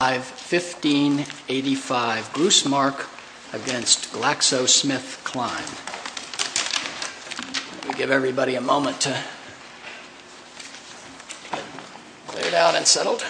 I have 1585 Grussmark against GlaxoSmithKline. Let me give everybody a moment to get laid out and settled.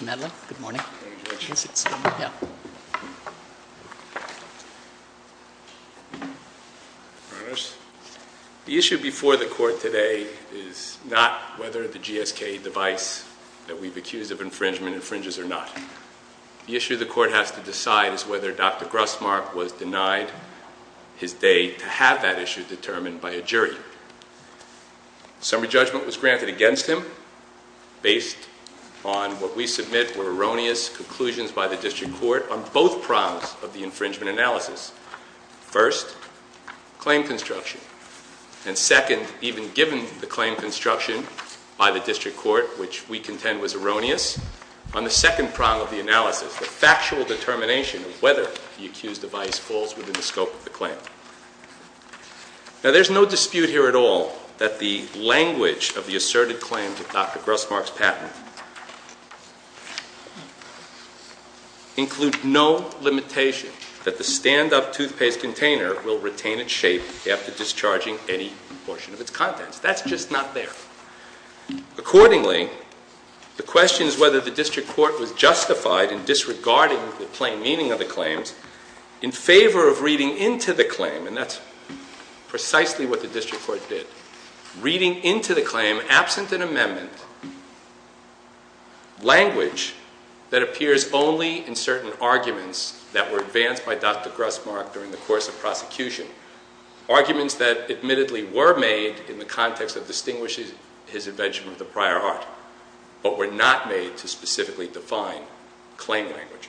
I have the Grussmark against GlaxoSmithKline. The issue before the court today is not whether the GSK device that we've accused of infringement infringes or not. The issue the court has to decide is whether Dr. Grussmark was denied his day to have that issue determined by a jury. Summary judgment was granted against him based on what we submit were erroneous conclusions by the district court on both prongs of the infringement analysis. First, claim construction, and second, even given the claim construction by the district court, which we contend was erroneous, on the second prong of the analysis, the factual determination of whether the accused device falls within the scope of the claim. Now there's no dispute here at all that the language of the asserted claim to Dr. Grussmark's patent includes no limitation that the stand-up toothpaste container will retain its shape after discharging any portion of its contents. That's just not there. Accordingly, the question is whether the district court was justified in disregarding the plain meaning of the claims in favor of reading into the claim, and that's precisely what the district court did, reading into the claim, absent an amendment, language that appears only in certain arguments that were advanced by Dr. Grussmark during the course of prosecution, arguments that admittedly were made in the context that distinguishes his invention of the prior art, but were not made to specifically define claim language.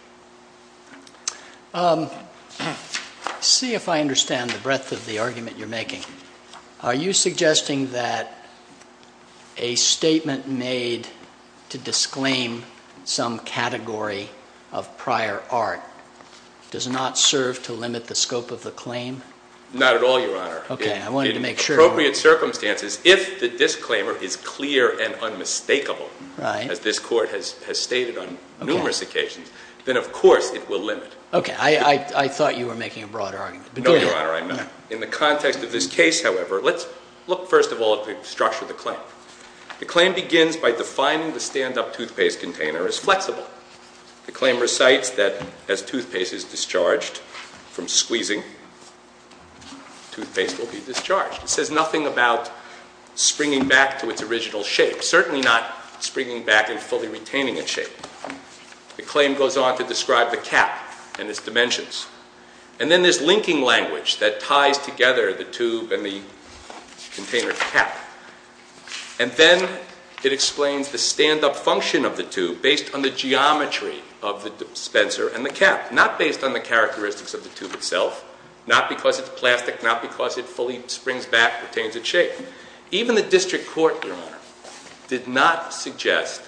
See if I understand the breadth of the argument you're making. Are you suggesting that a statement made to disclaim some category of prior art does not serve to limit the scope of the claim? Not at all, Your Honor. Okay, I wanted to make sure. In appropriate circumstances, if the disclaimer is clear and unmistakable, as this court has stated on numerous occasions, then of course it will limit. Okay, I thought you were making a broader argument. No, Your Honor, I'm not. In the context of this case, however, let's look first of all at the structure of the claim. The claim begins by defining the stand-up toothpaste container as flexible. The claim recites that as toothpaste is discharged from squeezing, toothpaste will be discharged. It says nothing about springing back to its original shape, certainly not springing back and fully retaining its shape. The claim goes on to describe the cap and its dimensions. And then there's linking language that ties together the tube and the container cap. And then it explains the stand-up function of the tube based on the geometry of the dispenser and the cap, not based on the characteristics of the tube itself, not because it's plastic, not because it fully springs back, retains its shape. Even the district court, Your Honor, did not suggest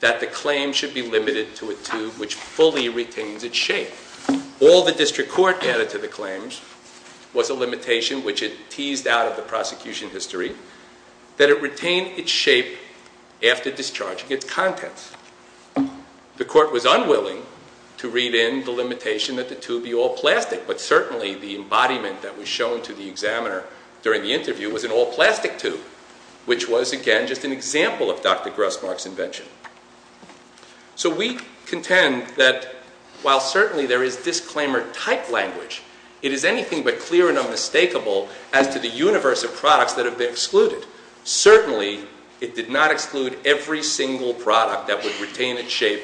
that the claim should be limited to a tube which fully retains its shape. All the district court added to the claims was a limitation which it teased out of the claim that it retained its shape after discharging its contents. The court was unwilling to read in the limitation that the tube be all plastic, but certainly the embodiment that was shown to the examiner during the interview was an all-plastic tube, which was, again, just an example of Dr. Grossmark's invention. So we contend that while certainly there is disclaimer-type language, it is anything but clear and unmistakable as to the universe of products that have been excluded. Certainly it did not exclude every single product that would retain its shape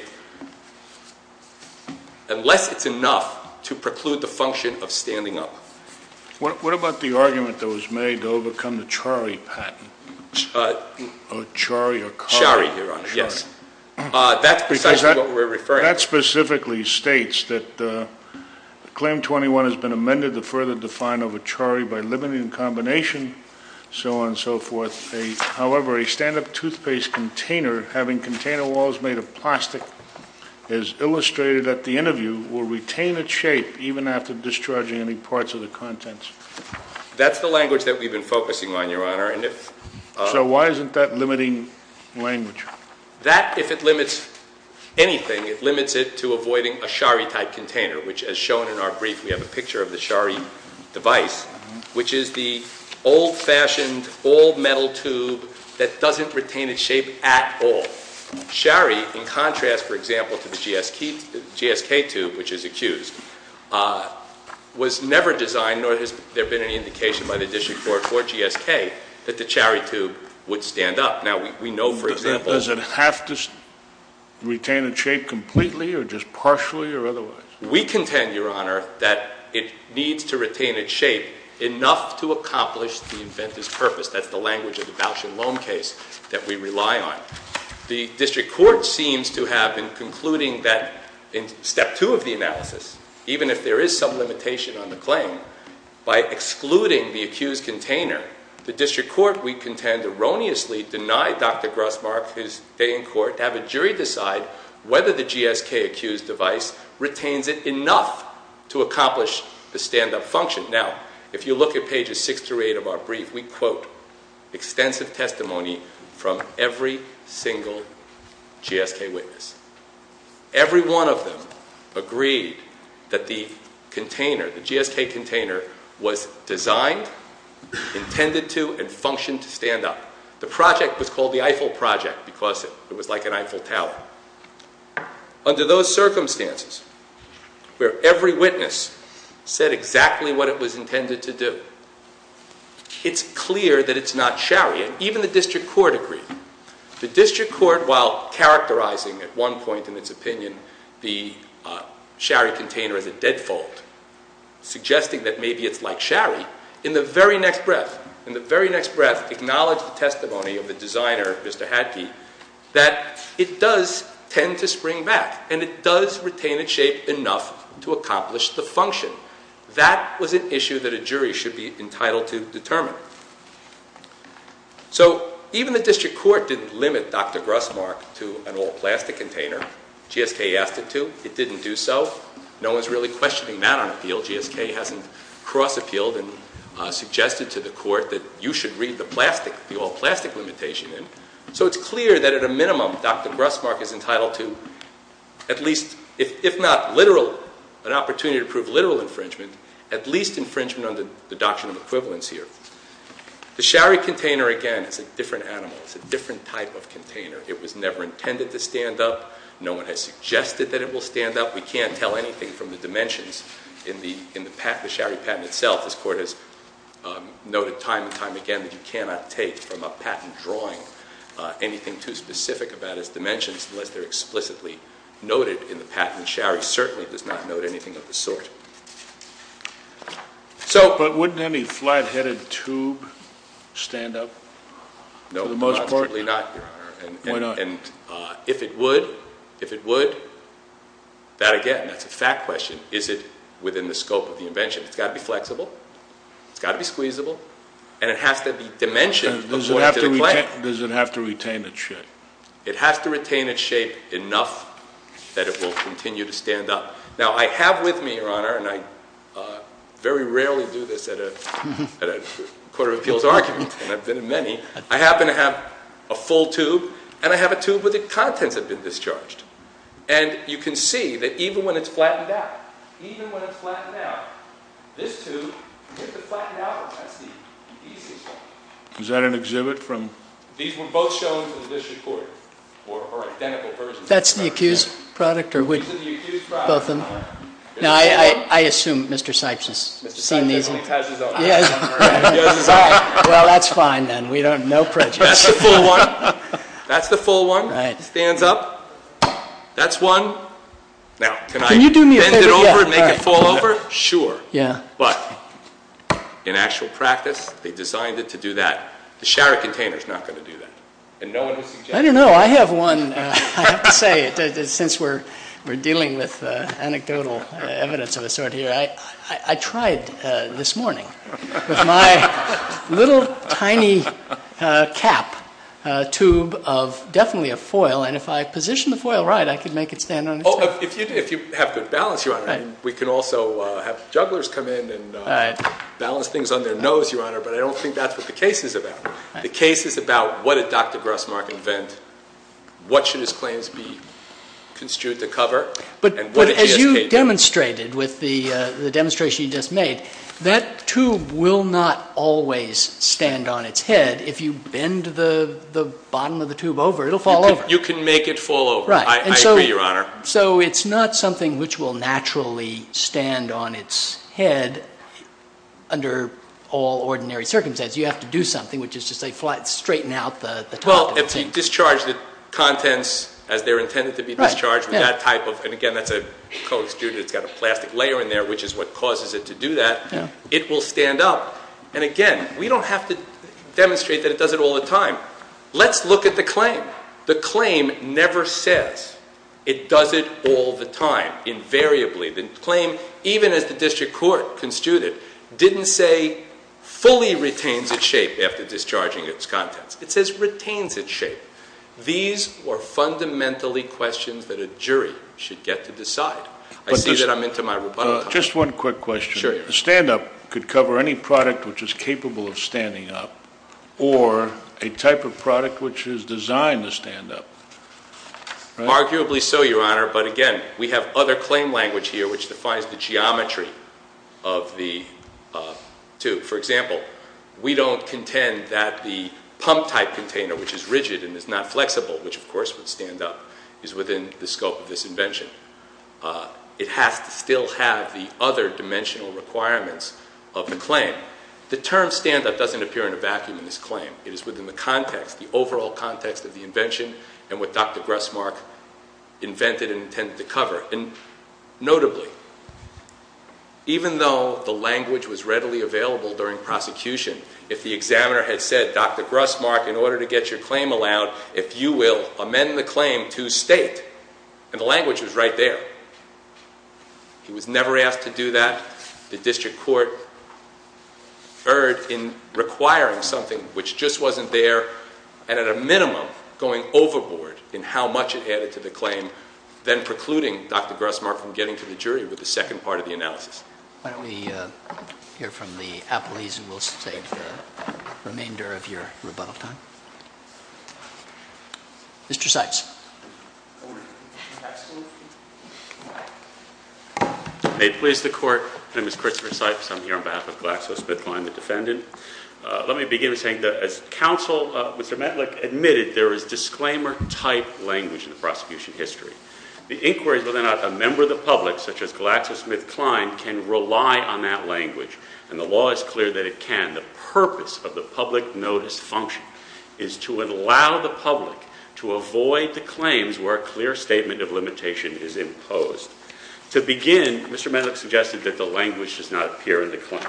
unless it's enough to preclude the function of standing up. What about the argument that was made to overcome the Chari patent? Chari or Cari? Chari, Your Honor, yes. That's precisely what we're referring to. That specifically states that Claim 21 has been amended to further define over Chari by limiting the combination, so on and so forth. However, a stand-up toothpaste container having container walls made of plastic has illustrated at the interview will retain its shape even after discharging any parts of the contents. That's the language that we've been focusing on, Your Honor. So why isn't that limiting language? That, if it limits anything, it limits it to avoiding a Chari-type container, which as shown in our brief, we have a picture of the Chari device, which is the old-fashioned, old metal tube that doesn't retain its shape at all. Chari, in contrast, for example, to the GSK tube, which is accused, was never designed, nor has there been any indication by the District Court or GSK, that the Chari tube would stand up. Now, we know, for example— Does it have to retain its shape completely or just partially or otherwise? We contend, Your Honor, that it needs to retain its shape enough to accomplish the inventive purpose. That's the language of the voucher loan case that we rely on. The District Court seems to have been concluding that in Step 2 of the analysis, even if there is some limitation on the claim, by excluding the accused container, the District Court, we contend, erroneously denied Dr. Grossmark his day in court to have a jury decide whether the GSK-accused device retains it enough to accomplish the stand-up function. Now, if you look at pages 6 through 8 of our brief, we quote extensive testimony from every single GSK witness. Every one of them agreed that the container, the GSK container, was designed, intended to, and functioned to stand up. The project was called the Eiffel Project because it was like an Eiffel Tower. Under those circumstances, where every witness said exactly what it was intended to do, it's clear that it's not Chari, and even the District Court agreed. The District Court, while characterizing at one point in its opinion the Chari container as a dead fault, suggesting that maybe it's like Chari, in the very next breath, in the very next breath, acknowledged the testimony of the designer, Mr. Hadke, that it does tend to spring back, and it does retain its shape enough to accomplish the function. That was an issue that a jury should be entitled to determine. So, even the District Court didn't limit Dr. Grussmark to an all-plastic container. GSK asked it to. It didn't do so. No one's really questioning that on appeal. GSK hasn't cross-appealed and suggested to the court that you should read the plastic, the all-plastic limitation in. So it's clear that at a minimum, Dr. Grussmark is entitled to at least, if not literal, an opportunity to prove literal infringement, at least infringement under the doctrine of equivalence here. The Chari container, again, is a different animal. It's a different type of container. It was never intended to stand up. No one has suggested that it will stand up. We can't tell anything from the dimensions in the Chari patent itself. This Court has noted time and time again that you cannot take from a patent drawing anything too specific about its dimensions unless they're explicitly noted in the patent. Chari certainly does not note anything of the sort. But wouldn't any flat-headed tube stand up for the most part? No, absolutely not, Your Honor. Why not? And if it would, if it would, that again, that's a fact question, is it within the scope of the invention? It's got to be flexible. It's got to be squeezable. And it has to be dimensioned according to the claim. Does it have to retain its shape? It has to retain its shape enough that it will continue to stand up. Now, I have with me, Your Honor, and I very rarely do this at a Court of Appeals argument, and I've been in many, I happen to have a full tube, and I have a tube where the contents have been discharged. And you can see that even when it's flattened out, even when it's flattened out, this tube, if it's flattened out, that's the easy spot. Is that an exhibit from? These were both shown to the district court, or identical persons. That's the accused product, or which? This is the accused product. Both of them. Now, I assume Mr. Sipes has seen these. Mr. Sipes has his own. Well, that's fine, then. We don't, no prejudice. That's the full one. That's the full one. Right. Stands up. That's one. Now, can I bend it over and make it fall over? Sure. Yeah. But in actual practice, they designed it to do that. The shower container's not going to do that. I don't know. I have one. I have to say, since we're dealing with anecdotal evidence of a sort here, I tried this morning with my little tiny cap tube of definitely a foil. And if I position the foil right, I could make it stand on its own. If you have good balance, Your Honor. We can also have jugglers come in and balance things on their nose, Your Honor, but I don't think that's what the case is about. The case is about what did Dr. Grossmark invent, what should his claims be construed to cover, and what did GSK do? But as you demonstrated with the demonstration you just made, that tube will not always stand on its head. If you bend the bottom of the tube over, it'll fall over. You can make it fall over. Right. I agree, Your Honor. So it's not something which will naturally stand on its head under all ordinary circumstances. You have to do something, which is to, say, straighten out the top of the tube. Well, if you discharge the contents as they're intended to be discharged with that type of, and again, that's a coated student. It's got a plastic layer in there, which is what causes it to do that. It will stand up. And again, we don't have to demonstrate that it does it all the time. Let's look at the claim. The claim never says it does it all the time, invariably. The claim, even as the district court construed it, didn't say fully retains its shape after discharging its contents. It says retains its shape. These are fundamentally questions that a jury should get to decide. I see that I'm into my rebuttal time. Just one quick question. Sure, Your Honor. A stand-up could cover any product which is capable of standing up or a type of product which is designed to stand up, right? Arguably so, Your Honor, but again, we have other claim language here which defines the geometry of the tube. For example, we don't contend that the pump-type container, which is rigid and is not flexible, which, of course, would stand up, is within the scope of this invention. It has to still have the other dimensional requirements of the claim. The term stand-up doesn't appear in a vacuum in this claim. It is within the context, the overall context of the invention and what Dr. Grussmark invented and intended to cover. Notably, even though the language was readily available during prosecution, if the examiner had said, Dr. Grussmark, in order to get your claim allowed, if you will amend the claim to state, and the language was right there, he was never asked to do that. The district court erred in requiring something which just wasn't there and at a minimum going overboard in how much it added to the claim, then precluding Dr. Grussmark from getting to the jury with the second part of the analysis. Why don't we hear from the appellees and we'll save the remainder of your rebuttal time. Mr. Seitz. May it please the court. My name is Christopher Seitz. I'm here on behalf of GlaxoSmithKline, the defendant. Let me begin by saying that as counsel, Mr. Metlick, admitted, there is disclaimer-type language in the prosecution history. The inquiry is whether or not a member of the public, such as GlaxoSmithKline, can rely on that language, and the law is clear that it can. The purpose of the public notice function is to allow the public to avoid the claims where a clear statement of limitation is imposed. To begin, Mr. Metlick suggested that the language does not appear in the claim.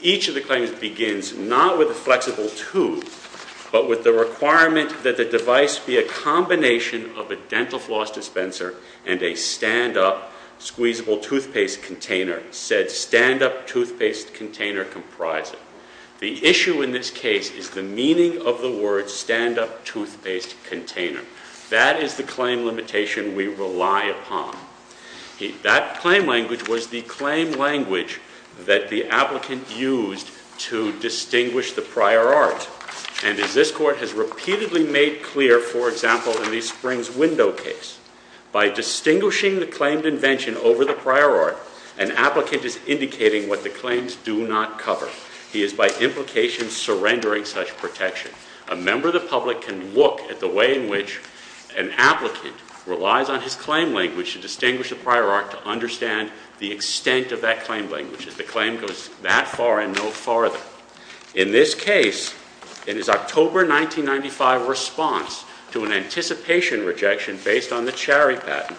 Each of the claims begins not with a flexible tooth, but with the requirement that the device be a combination of a dental floss dispenser and a stand-up, squeezable toothpaste container. The issue in this case is the meaning of the word stand-up toothpaste container. That is the claim limitation we rely upon. That claim language was the claim language that the applicant used to distinguish the prior art. And as this court has repeatedly made clear, for example, in the Springs Window case, by distinguishing the claimed invention over the prior art, an applicant is indicating what the claims do not cover. He is, by implication, surrendering such protection. A member of the public can look at the way in which an applicant relies on his claim language to distinguish the prior art to understand the extent of that claim language. The claim goes that far and no farther. In this case, in his October 1995 response to an anticipation rejection based on the Cherry patent,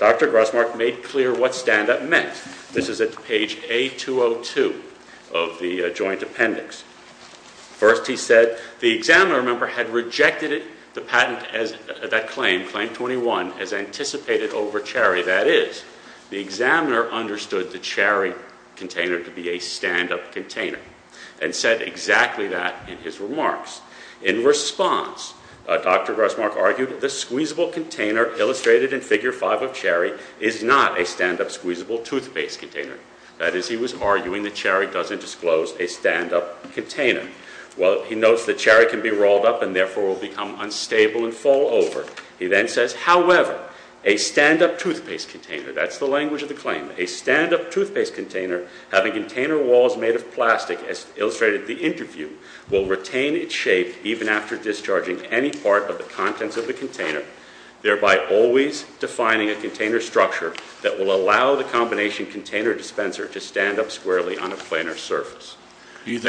Dr. Grossmark made clear what stand-up meant. This is at page A202 of the joint appendix. First he said, the examiner member had rejected the patent, that claim, Claim 21, as anticipated over Cherry. That is, the examiner understood the Cherry container to be a stand-up container and said exactly that in his remarks. In response, Dr. Grossmark argued, the squeezable container illustrated in Figure 5 of Cherry is not a stand-up squeezable toothpaste container. That is, he was arguing that Cherry doesn't disclose a stand-up container. Well, he notes that Cherry can be rolled up and therefore will become unstable and fall over. He then says, however, a stand-up toothpaste container, that's the language of the claim, a stand-up toothpaste container having container walls made of plastic, as illustrated in the interview, will retain its shape even after discharging any part of the contents of the container, thereby always defining a container structure that will allow the combination container dispenser to stand up squarely on a planar surface. Do you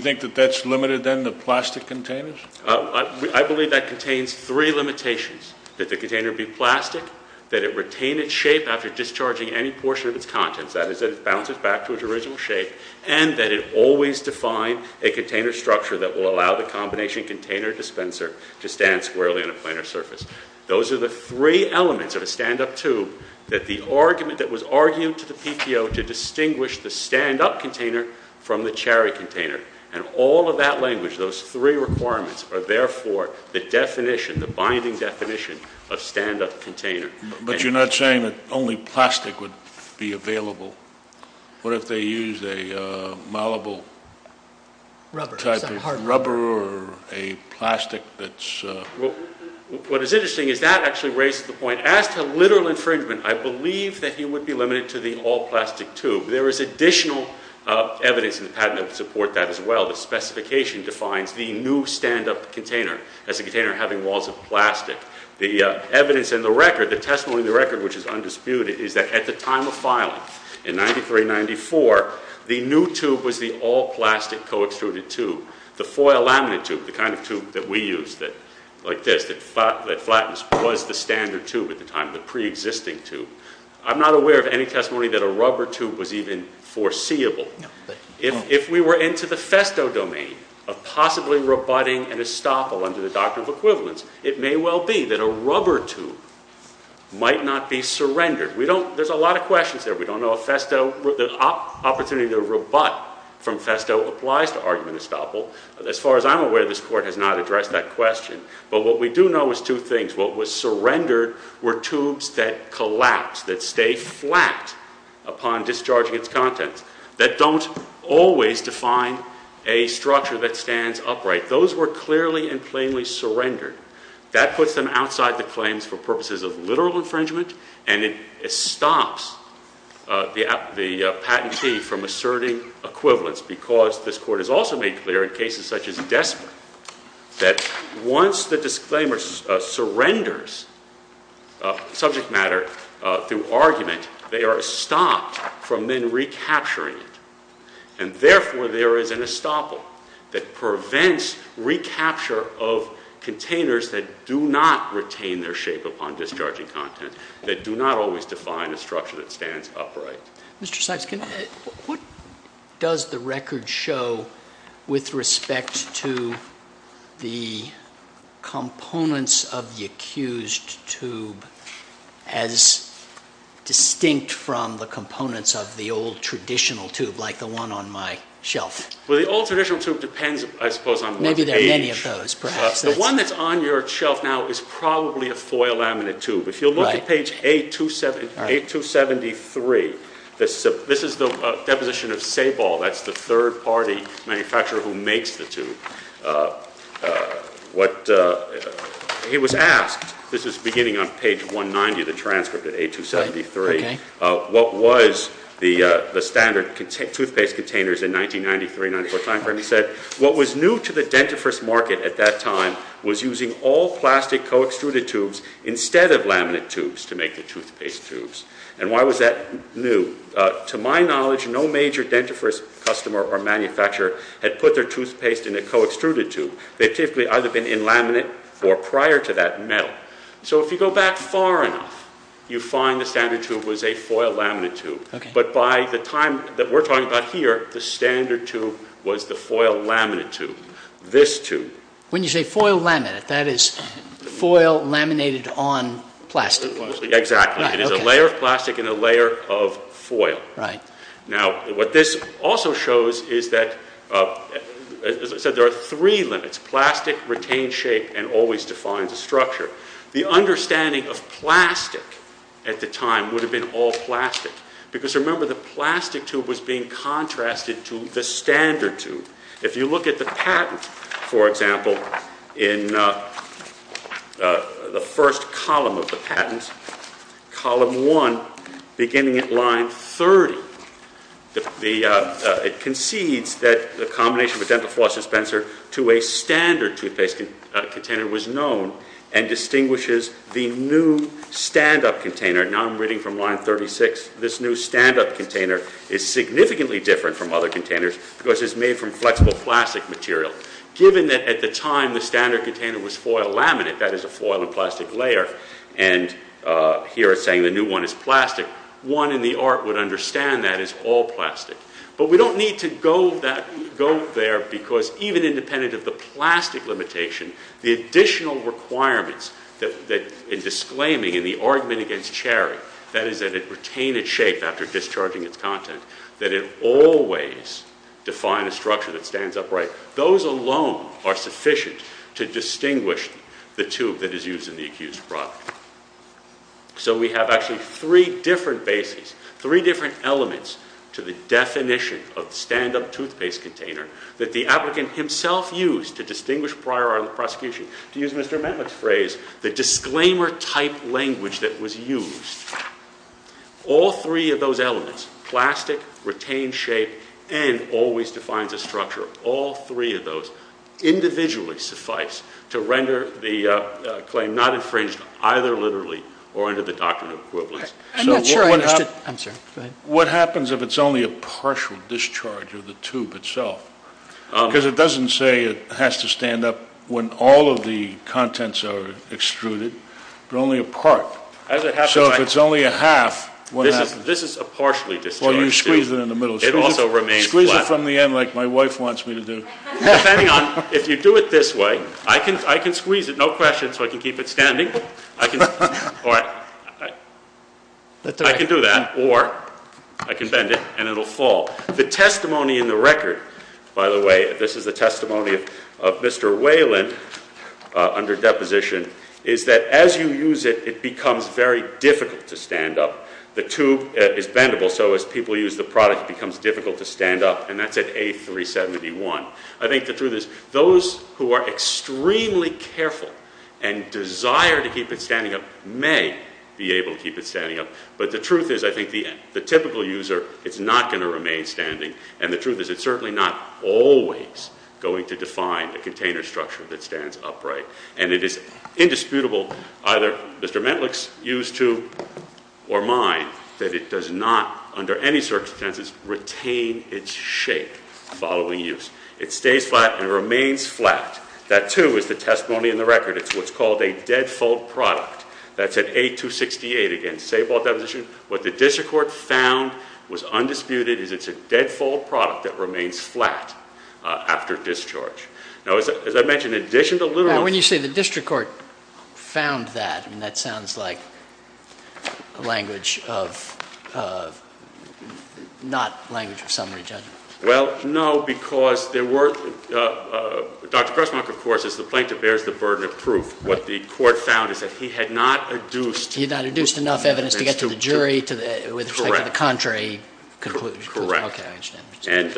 think that that's limited then to plastic containers? I believe that contains three limitations. That the container be plastic, that it retain its shape after discharging any portion of its contents, that is, that it bounces back to its original shape, and that it always define a container structure that will allow the combination container dispenser to stand squarely on a planar surface. Those are the three elements of a stand-up tube that the argument that was argued to the PTO to distinguish the stand-up container from the Cherry container. And all of that language, those three requirements, are therefore the definition, the binding definition of stand-up container. But you're not saying that only plastic would be available? What if they used a malleable type of rubber or a plastic that's... What is interesting is that actually raises the point. As to literal infringement, I believe that he would be limited to the all-plastic tube. There is additional evidence in the patent that would support that as well. The specification defines the new stand-up container as a container having walls of plastic. The evidence in the record, the testimony in the record, which is undisputed, is that at the time of filing in 93-94, the new tube was the all-plastic co-extruded tube. The foil laminate tube, the kind of tube that we use, like this, that flattens was the standard tube at the time, the pre-existing tube. I'm not aware of any testimony that a rubber tube was even foreseeable. If we were into the Festo domain of possibly rebutting an estoppel under the Doctrine of Equivalence, it may well be that a rubber tube might not be surrendered. There's a lot of questions there. We don't know if the opportunity to rebut from Festo applies to argument estoppel. As far as I'm aware, this Court has not addressed that question. But what we do know is two things. What was surrendered were tubes that collapse, that stay flat upon discharging its contents, that don't always define a structure that stands upright. Those were clearly and plainly surrendered. That puts them outside the claims for purposes of literal infringement, and it stops the patentee from asserting equivalence because this Court has also made clear, in cases such as Desper, that once the disclaimer surrenders subject matter through argument, they are stopped from then recapturing it. And therefore, there is an estoppel that prevents recapture of containers that do not retain their shape upon discharging content, that do not always define a structure that stands upright. Mr. Sykes, what does the record show with respect to the components of the accused tube as distinct from the components of the old traditional tube like the one on my shelf? Well, the old traditional tube depends, I suppose, on the age. Maybe there are many of those, perhaps. The one that's on your shelf now is probably a foil laminate tube. If you look at page A273, this is the deposition of Sabol. He was asked, this is beginning on page 190 of the transcript of A273, what was the standard toothpaste containers in 1993-94 timeframe. He said, what was new to the dentifrice market at that time was using all plastic co-extruded tubes instead of laminate tubes to make the toothpaste tubes. And why was that new? To my knowledge, no major dentifrice customer or manufacturer had put their toothpaste in a co-extruded tube. They've typically either been in laminate or prior to that, metal. So if you go back far enough, you find the standard tube was a foil laminate tube. But by the time that we're talking about here, the standard tube was the foil laminate tube. This tube. When you say foil laminate, that is foil laminated on plastic. Now, what this also shows is that, as I said, there are three limits, plastic, retained shape, and always defined structure. The understanding of plastic at the time would have been all plastic because remember the plastic tube was being contrasted to the standard tube. If you look at the patent, for example, in the first column of the patent, column one, beginning at line 30, it concedes that the combination of a dental floss dispenser to a standard toothpaste container was known and distinguishes the new stand-up container. Now I'm reading from line 36. This new stand-up container is significantly different from other containers because it's made from flexible plastic material. Given that at the time the standard container was foil laminate, that is a foil and plastic layer, and here it's saying the new one is plastic, one in the art would understand that as all plastic. But we don't need to go there because, even independent of the plastic limitation, the additional requirements in disclaiming in the argument against Cherry, that is that it retain its shape after discharging its content, that it always define a structure that stands upright, those alone are sufficient to distinguish the tube that is used in the accused product. So we have actually three different bases, three different elements to the definition of the stand-up toothpaste container that the applicant himself used to distinguish prior on the prosecution. To use Mr. Metlock's phrase, the disclaimer type language that was used. All three of those elements, plastic, retain shape, and always defines a structure. All three of those individually suffice to render the claim not infringed either literally or under the doctrine of equivalence. I'm not sure I understood. What happens if it's only a partial discharge of the tube itself? Because it doesn't say it has to stand up when all of the contents are extruded, but only a part. So if it's only a half... This is a partially discharged tube. Well, you squeeze it in the middle. It also remains flat. Squeeze it from the end like my wife wants me to do. If you do it this way, I can squeeze it, no question, so I can keep it standing. I can do that, or I can bend it and it will fall. The testimony in the record, by the way, this is the testimony of Mr. Whelan under deposition, is that as you use it, it becomes very difficult to stand up. The tube is bendable, so as people use the product, it becomes difficult to stand up, and that's at A371. I think the truth is those who are extremely careful and desire to keep it standing up may be able to keep it standing up. But the truth is I think the typical user, it's not going to remain standing, and the truth is it's certainly not always going to define a container structure that stands upright. And it is indisputable, either Mr. Mentlich's use to or mine, that it does not, under any circumstances, retain its shape following use. It stays flat and remains flat. That, too, is the testimony in the record. It's what's called a deadfold product. That's at A268. Again, say about deposition, what the district court found was undisputed is it's a deadfold product that remains flat after discharge. Now, as I mentioned, in addition to literal... Now, when you say the district court found that, that sounds like language of not language of summary judgment. Well, no, because there were... Dr. Cressmark, of course, is the plaintiff, bears the burden of proof. What the court found is that he had not adduced... He had not adduced enough evidence to get to the jury with respect to the contrary conclusion. Correct. And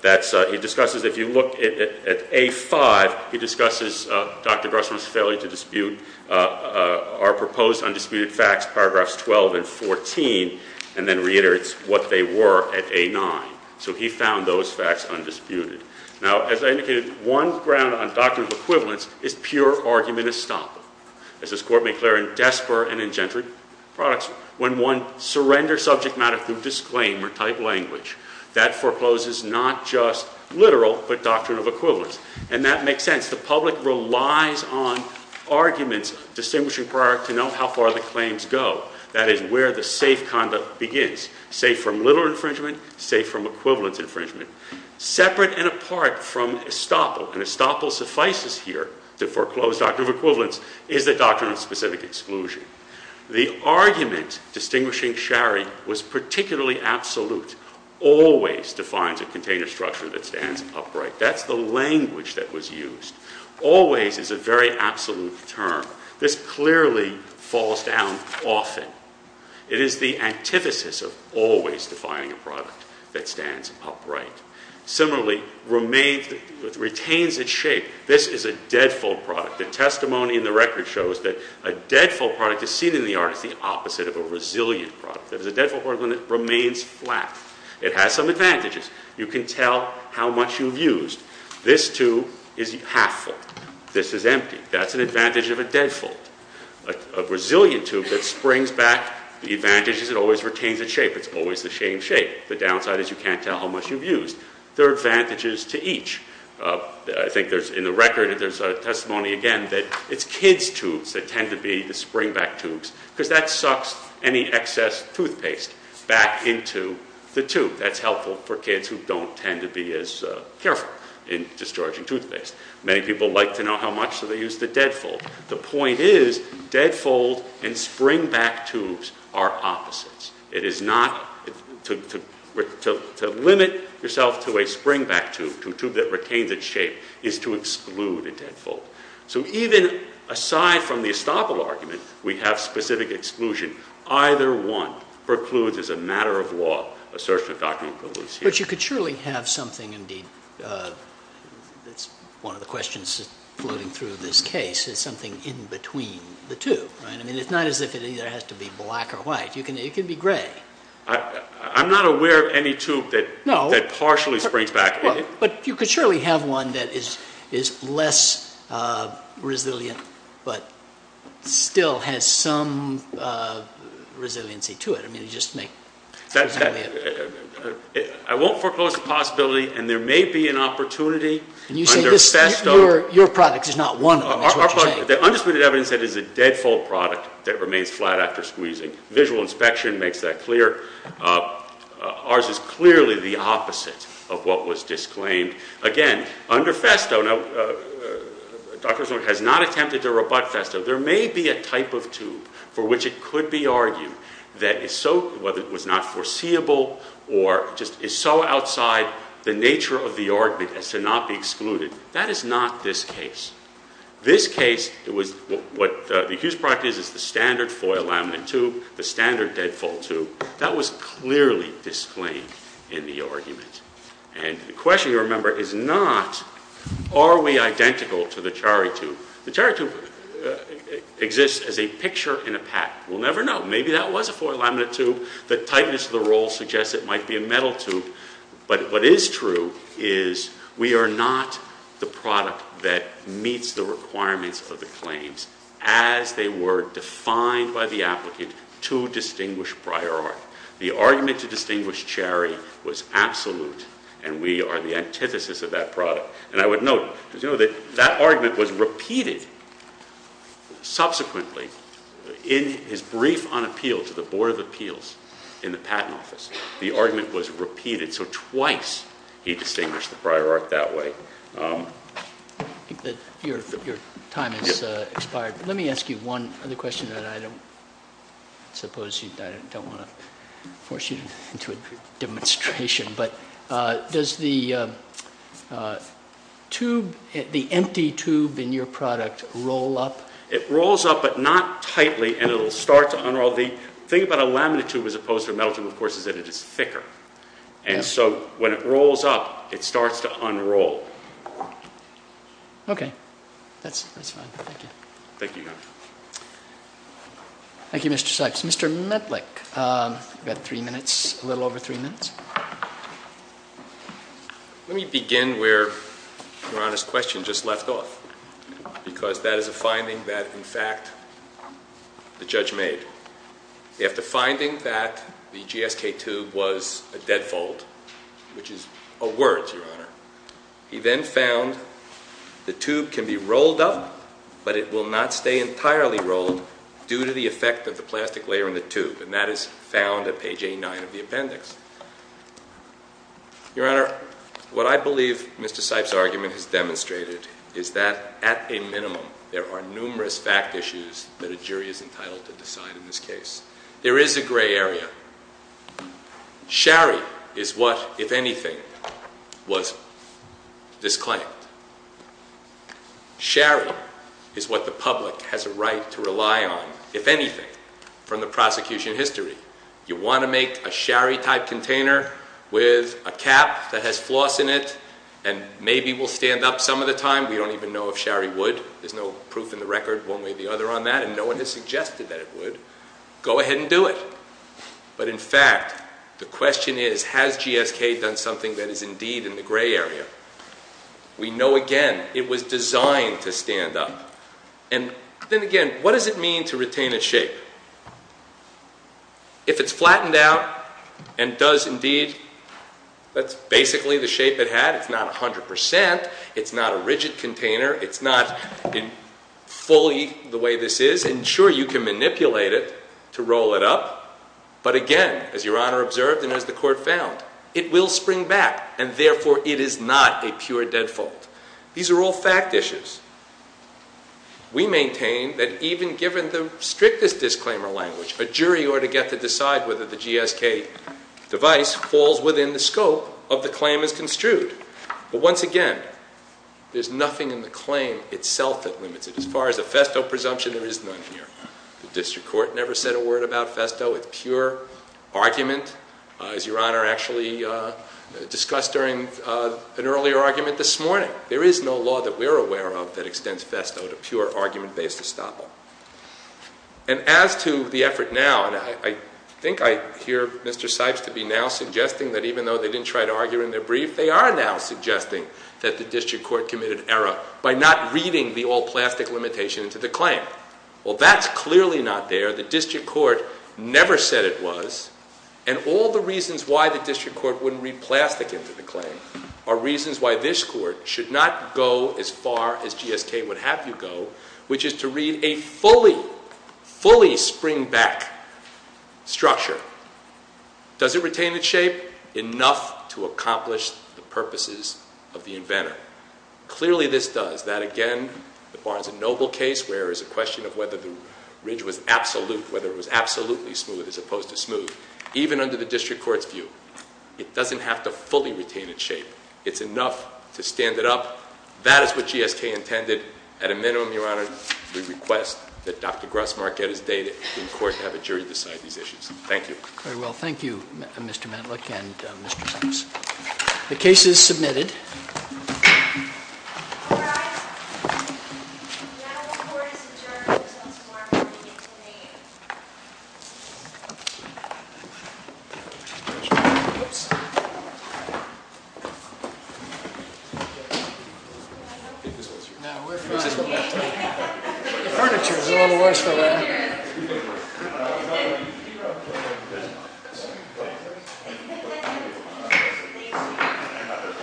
that's... He discusses... If you look at A5, he discusses Dr. Grussman's failure to dispute our proposed undisputed facts, paragraphs 12 and 14, and then reiterates what they were at A9. So he found those facts undisputed. Now, as I indicated, one ground on doctrinal equivalence is pure argument estoppel. As this court made clear in Desper and in Gentry products, when one surrenders subject matter through disclaimer-type language, that forecloses not just literal but doctrinal equivalence. And that makes sense. The public relies on arguments distinguishing prior to know how far the claims go. That is where the safe conduct begins, safe from literal infringement, safe from equivalence infringement. Separate and apart from estoppel, and estoppel suffices here to foreclose doctrinal equivalence, is the doctrine of specific exclusion. The argument distinguishing Sharry was particularly absolute. Always defines a container structure that stands upright. That's the language that was used. Always is a very absolute term. This clearly falls down often. It is the antithesis of always defining a product that stands upright. Similarly, remains, retains its shape. This is a deadfold product. The testimony in the record shows that a deadfold product is seen in the arts as the opposite of a resilient product. It is a deadfold product when it remains flat. It has some advantages. You can tell how much you've used. This tube is half full. This is empty. That's an advantage of a deadfold. A resilient tube that springs back, the advantage is it always retains its shape. It's always the same shape. The downside is you can't tell how much you've used. There are advantages to each. I think in the record there's a testimony, again, that it's kids' tubes that tend to be the springback tubes because that sucks any excess toothpaste back into the tube. That's helpful for kids who don't tend to be as careful in discharging toothpaste. Many people like to know how much, so they use the deadfold. The point is deadfold and springback tubes are opposites. To limit yourself to a springback tube, to a tube that retains its shape, is to exclude a deadfold. So even aside from the estoppel argument, we have specific exclusion. Either one precludes, as a matter of law, assertion of doctrinal equivalency. But you could surely have something, indeed, that's one of the questions floating through this case, is something in between the two. It's not as if it either has to be black or white. It can be gray. I'm not aware of any tube that partially springs back. But you could surely have one that is less resilient but still has some resiliency to it. I won't foreclose the possibility, and there may be an opportunity. Your product is not one of them. The undisputed evidence is that it is a deadfold product that remains flat after squeezing. Visual inspection makes that clear. Ours is clearly the opposite of what was disclaimed. Again, under Festo, Dr. Zorn has not attempted to rebut Festo. There may be a type of tube for which it could be argued that is so, whether it was not foreseeable or just is so outside the nature of the argument as to not be excluded. That is not this case. This case, what the accused product is, is the standard foil laminate tube, the standard deadfold tube. That was clearly disclaimed in the argument. The question, remember, is not are we identical to the Chari tube. The Chari tube exists as a picture in a pack. We'll never know. Maybe that was a foil laminate tube. The tightness of the roll suggests it might be a metal tube. But what is true is we are not the product that meets the requirements of the claims as they were defined by the applicant to distinguish prior art. The argument to distinguish Chari was absolute, and we are the antithesis of that product. And I would note, as you know, that that argument was repeated subsequently in his brief on appeal to the Board of Appeals in the Patent Office. The argument was repeated, so twice he distinguished the prior art that way. Your time has expired. Let me ask you one other question that I don't want to force you into a demonstration. Does the empty tube in your product roll up? It rolls up, but not tightly, and it will start to unroll. Well, the thing about a laminate tube as opposed to a metal tube, of course, is that it is thicker. And so when it rolls up, it starts to unroll. Okay. That's fine. Thank you. Thank you, Your Honor. Thank you, Mr. Sipes. Mr. Medlik, you've got three minutes, a little over three minutes. Let me begin where Your Honor's question just left off, because that is a finding that, in fact, the judge made. After finding that the GSK tube was a deadfold, which is a word, Your Honor, he then found the tube can be rolled up, but it will not stay entirely rolled due to the effect of the plastic layer in the tube, and that is found at page 89 of the appendix. Your Honor, what I believe Mr. Sipes' argument has demonstrated is that, at a minimum, there are numerous fact issues that a jury is entitled to decide in this case. There is a gray area. Shari is what, if anything, was disclaimed. Shari is what the public has a right to rely on, if anything, from the prosecution history. You want to make a Shari-type container with a cap that has floss in it, and maybe will stand up some of the time. We don't even know if Shari would. There's no proof in the record one way or the other on that, and no one has suggested that it would. Go ahead and do it. But, in fact, the question is, has GSK done something that is indeed in the gray area? We know, again, it was designed to stand up. Then again, what does it mean to retain its shape? If it's flattened out and does indeed, that's basically the shape it had. It's not 100 percent. It's not a rigid container. It's not fully the way this is. And, sure, you can manipulate it to roll it up. But, again, as Your Honor observed and as the Court found, it will spring back, and, therefore, it is not a pure dead fold. These are all fact issues. We maintain that even given the strictest disclaimer language, a jury ought to get to decide whether the GSK device falls within the scope of the claim as construed. But, once again, there's nothing in the claim itself that limits it. As far as a FESTO presumption, there is none here. The District Court never said a word about FESTO. It's pure argument, as Your Honor actually discussed during an earlier argument this morning. There is no law that we're aware of that extends FESTO to pure argument-based estoppel. And as to the effort now, and I think I hear Mr. Sipes to be now suggesting that even though they didn't try to argue in their brief, they are now suggesting that the District Court committed error by not reading the all-plastic limitation to the claim. Well, that's clearly not there. The District Court never said it was, and all the reasons why the District Court wouldn't read plastic into the claim are reasons why this Court should not go as far as GSK would have you go, which is to read a fully, fully springback structure. Does it retain its shape? Enough to accomplish the purposes of the inventor. Clearly, this does. Does that again? The Barnes and Noble case, where there's a question of whether the ridge was absolute, whether it was absolutely smooth as opposed to smooth, even under the District Court's view. It doesn't have to fully retain its shape. It's enough to stand it up. That is what GSK intended. At a minimum, Your Honor, we request that Dr. Gross-Marquette is dated in court to have a jury decide these issues. Thank you. Very well. Thank you, Mr. Matlock and Mr. Sipes. The case is submitted. Now the Court is adjourned until tomorrow morning at 8 a.m.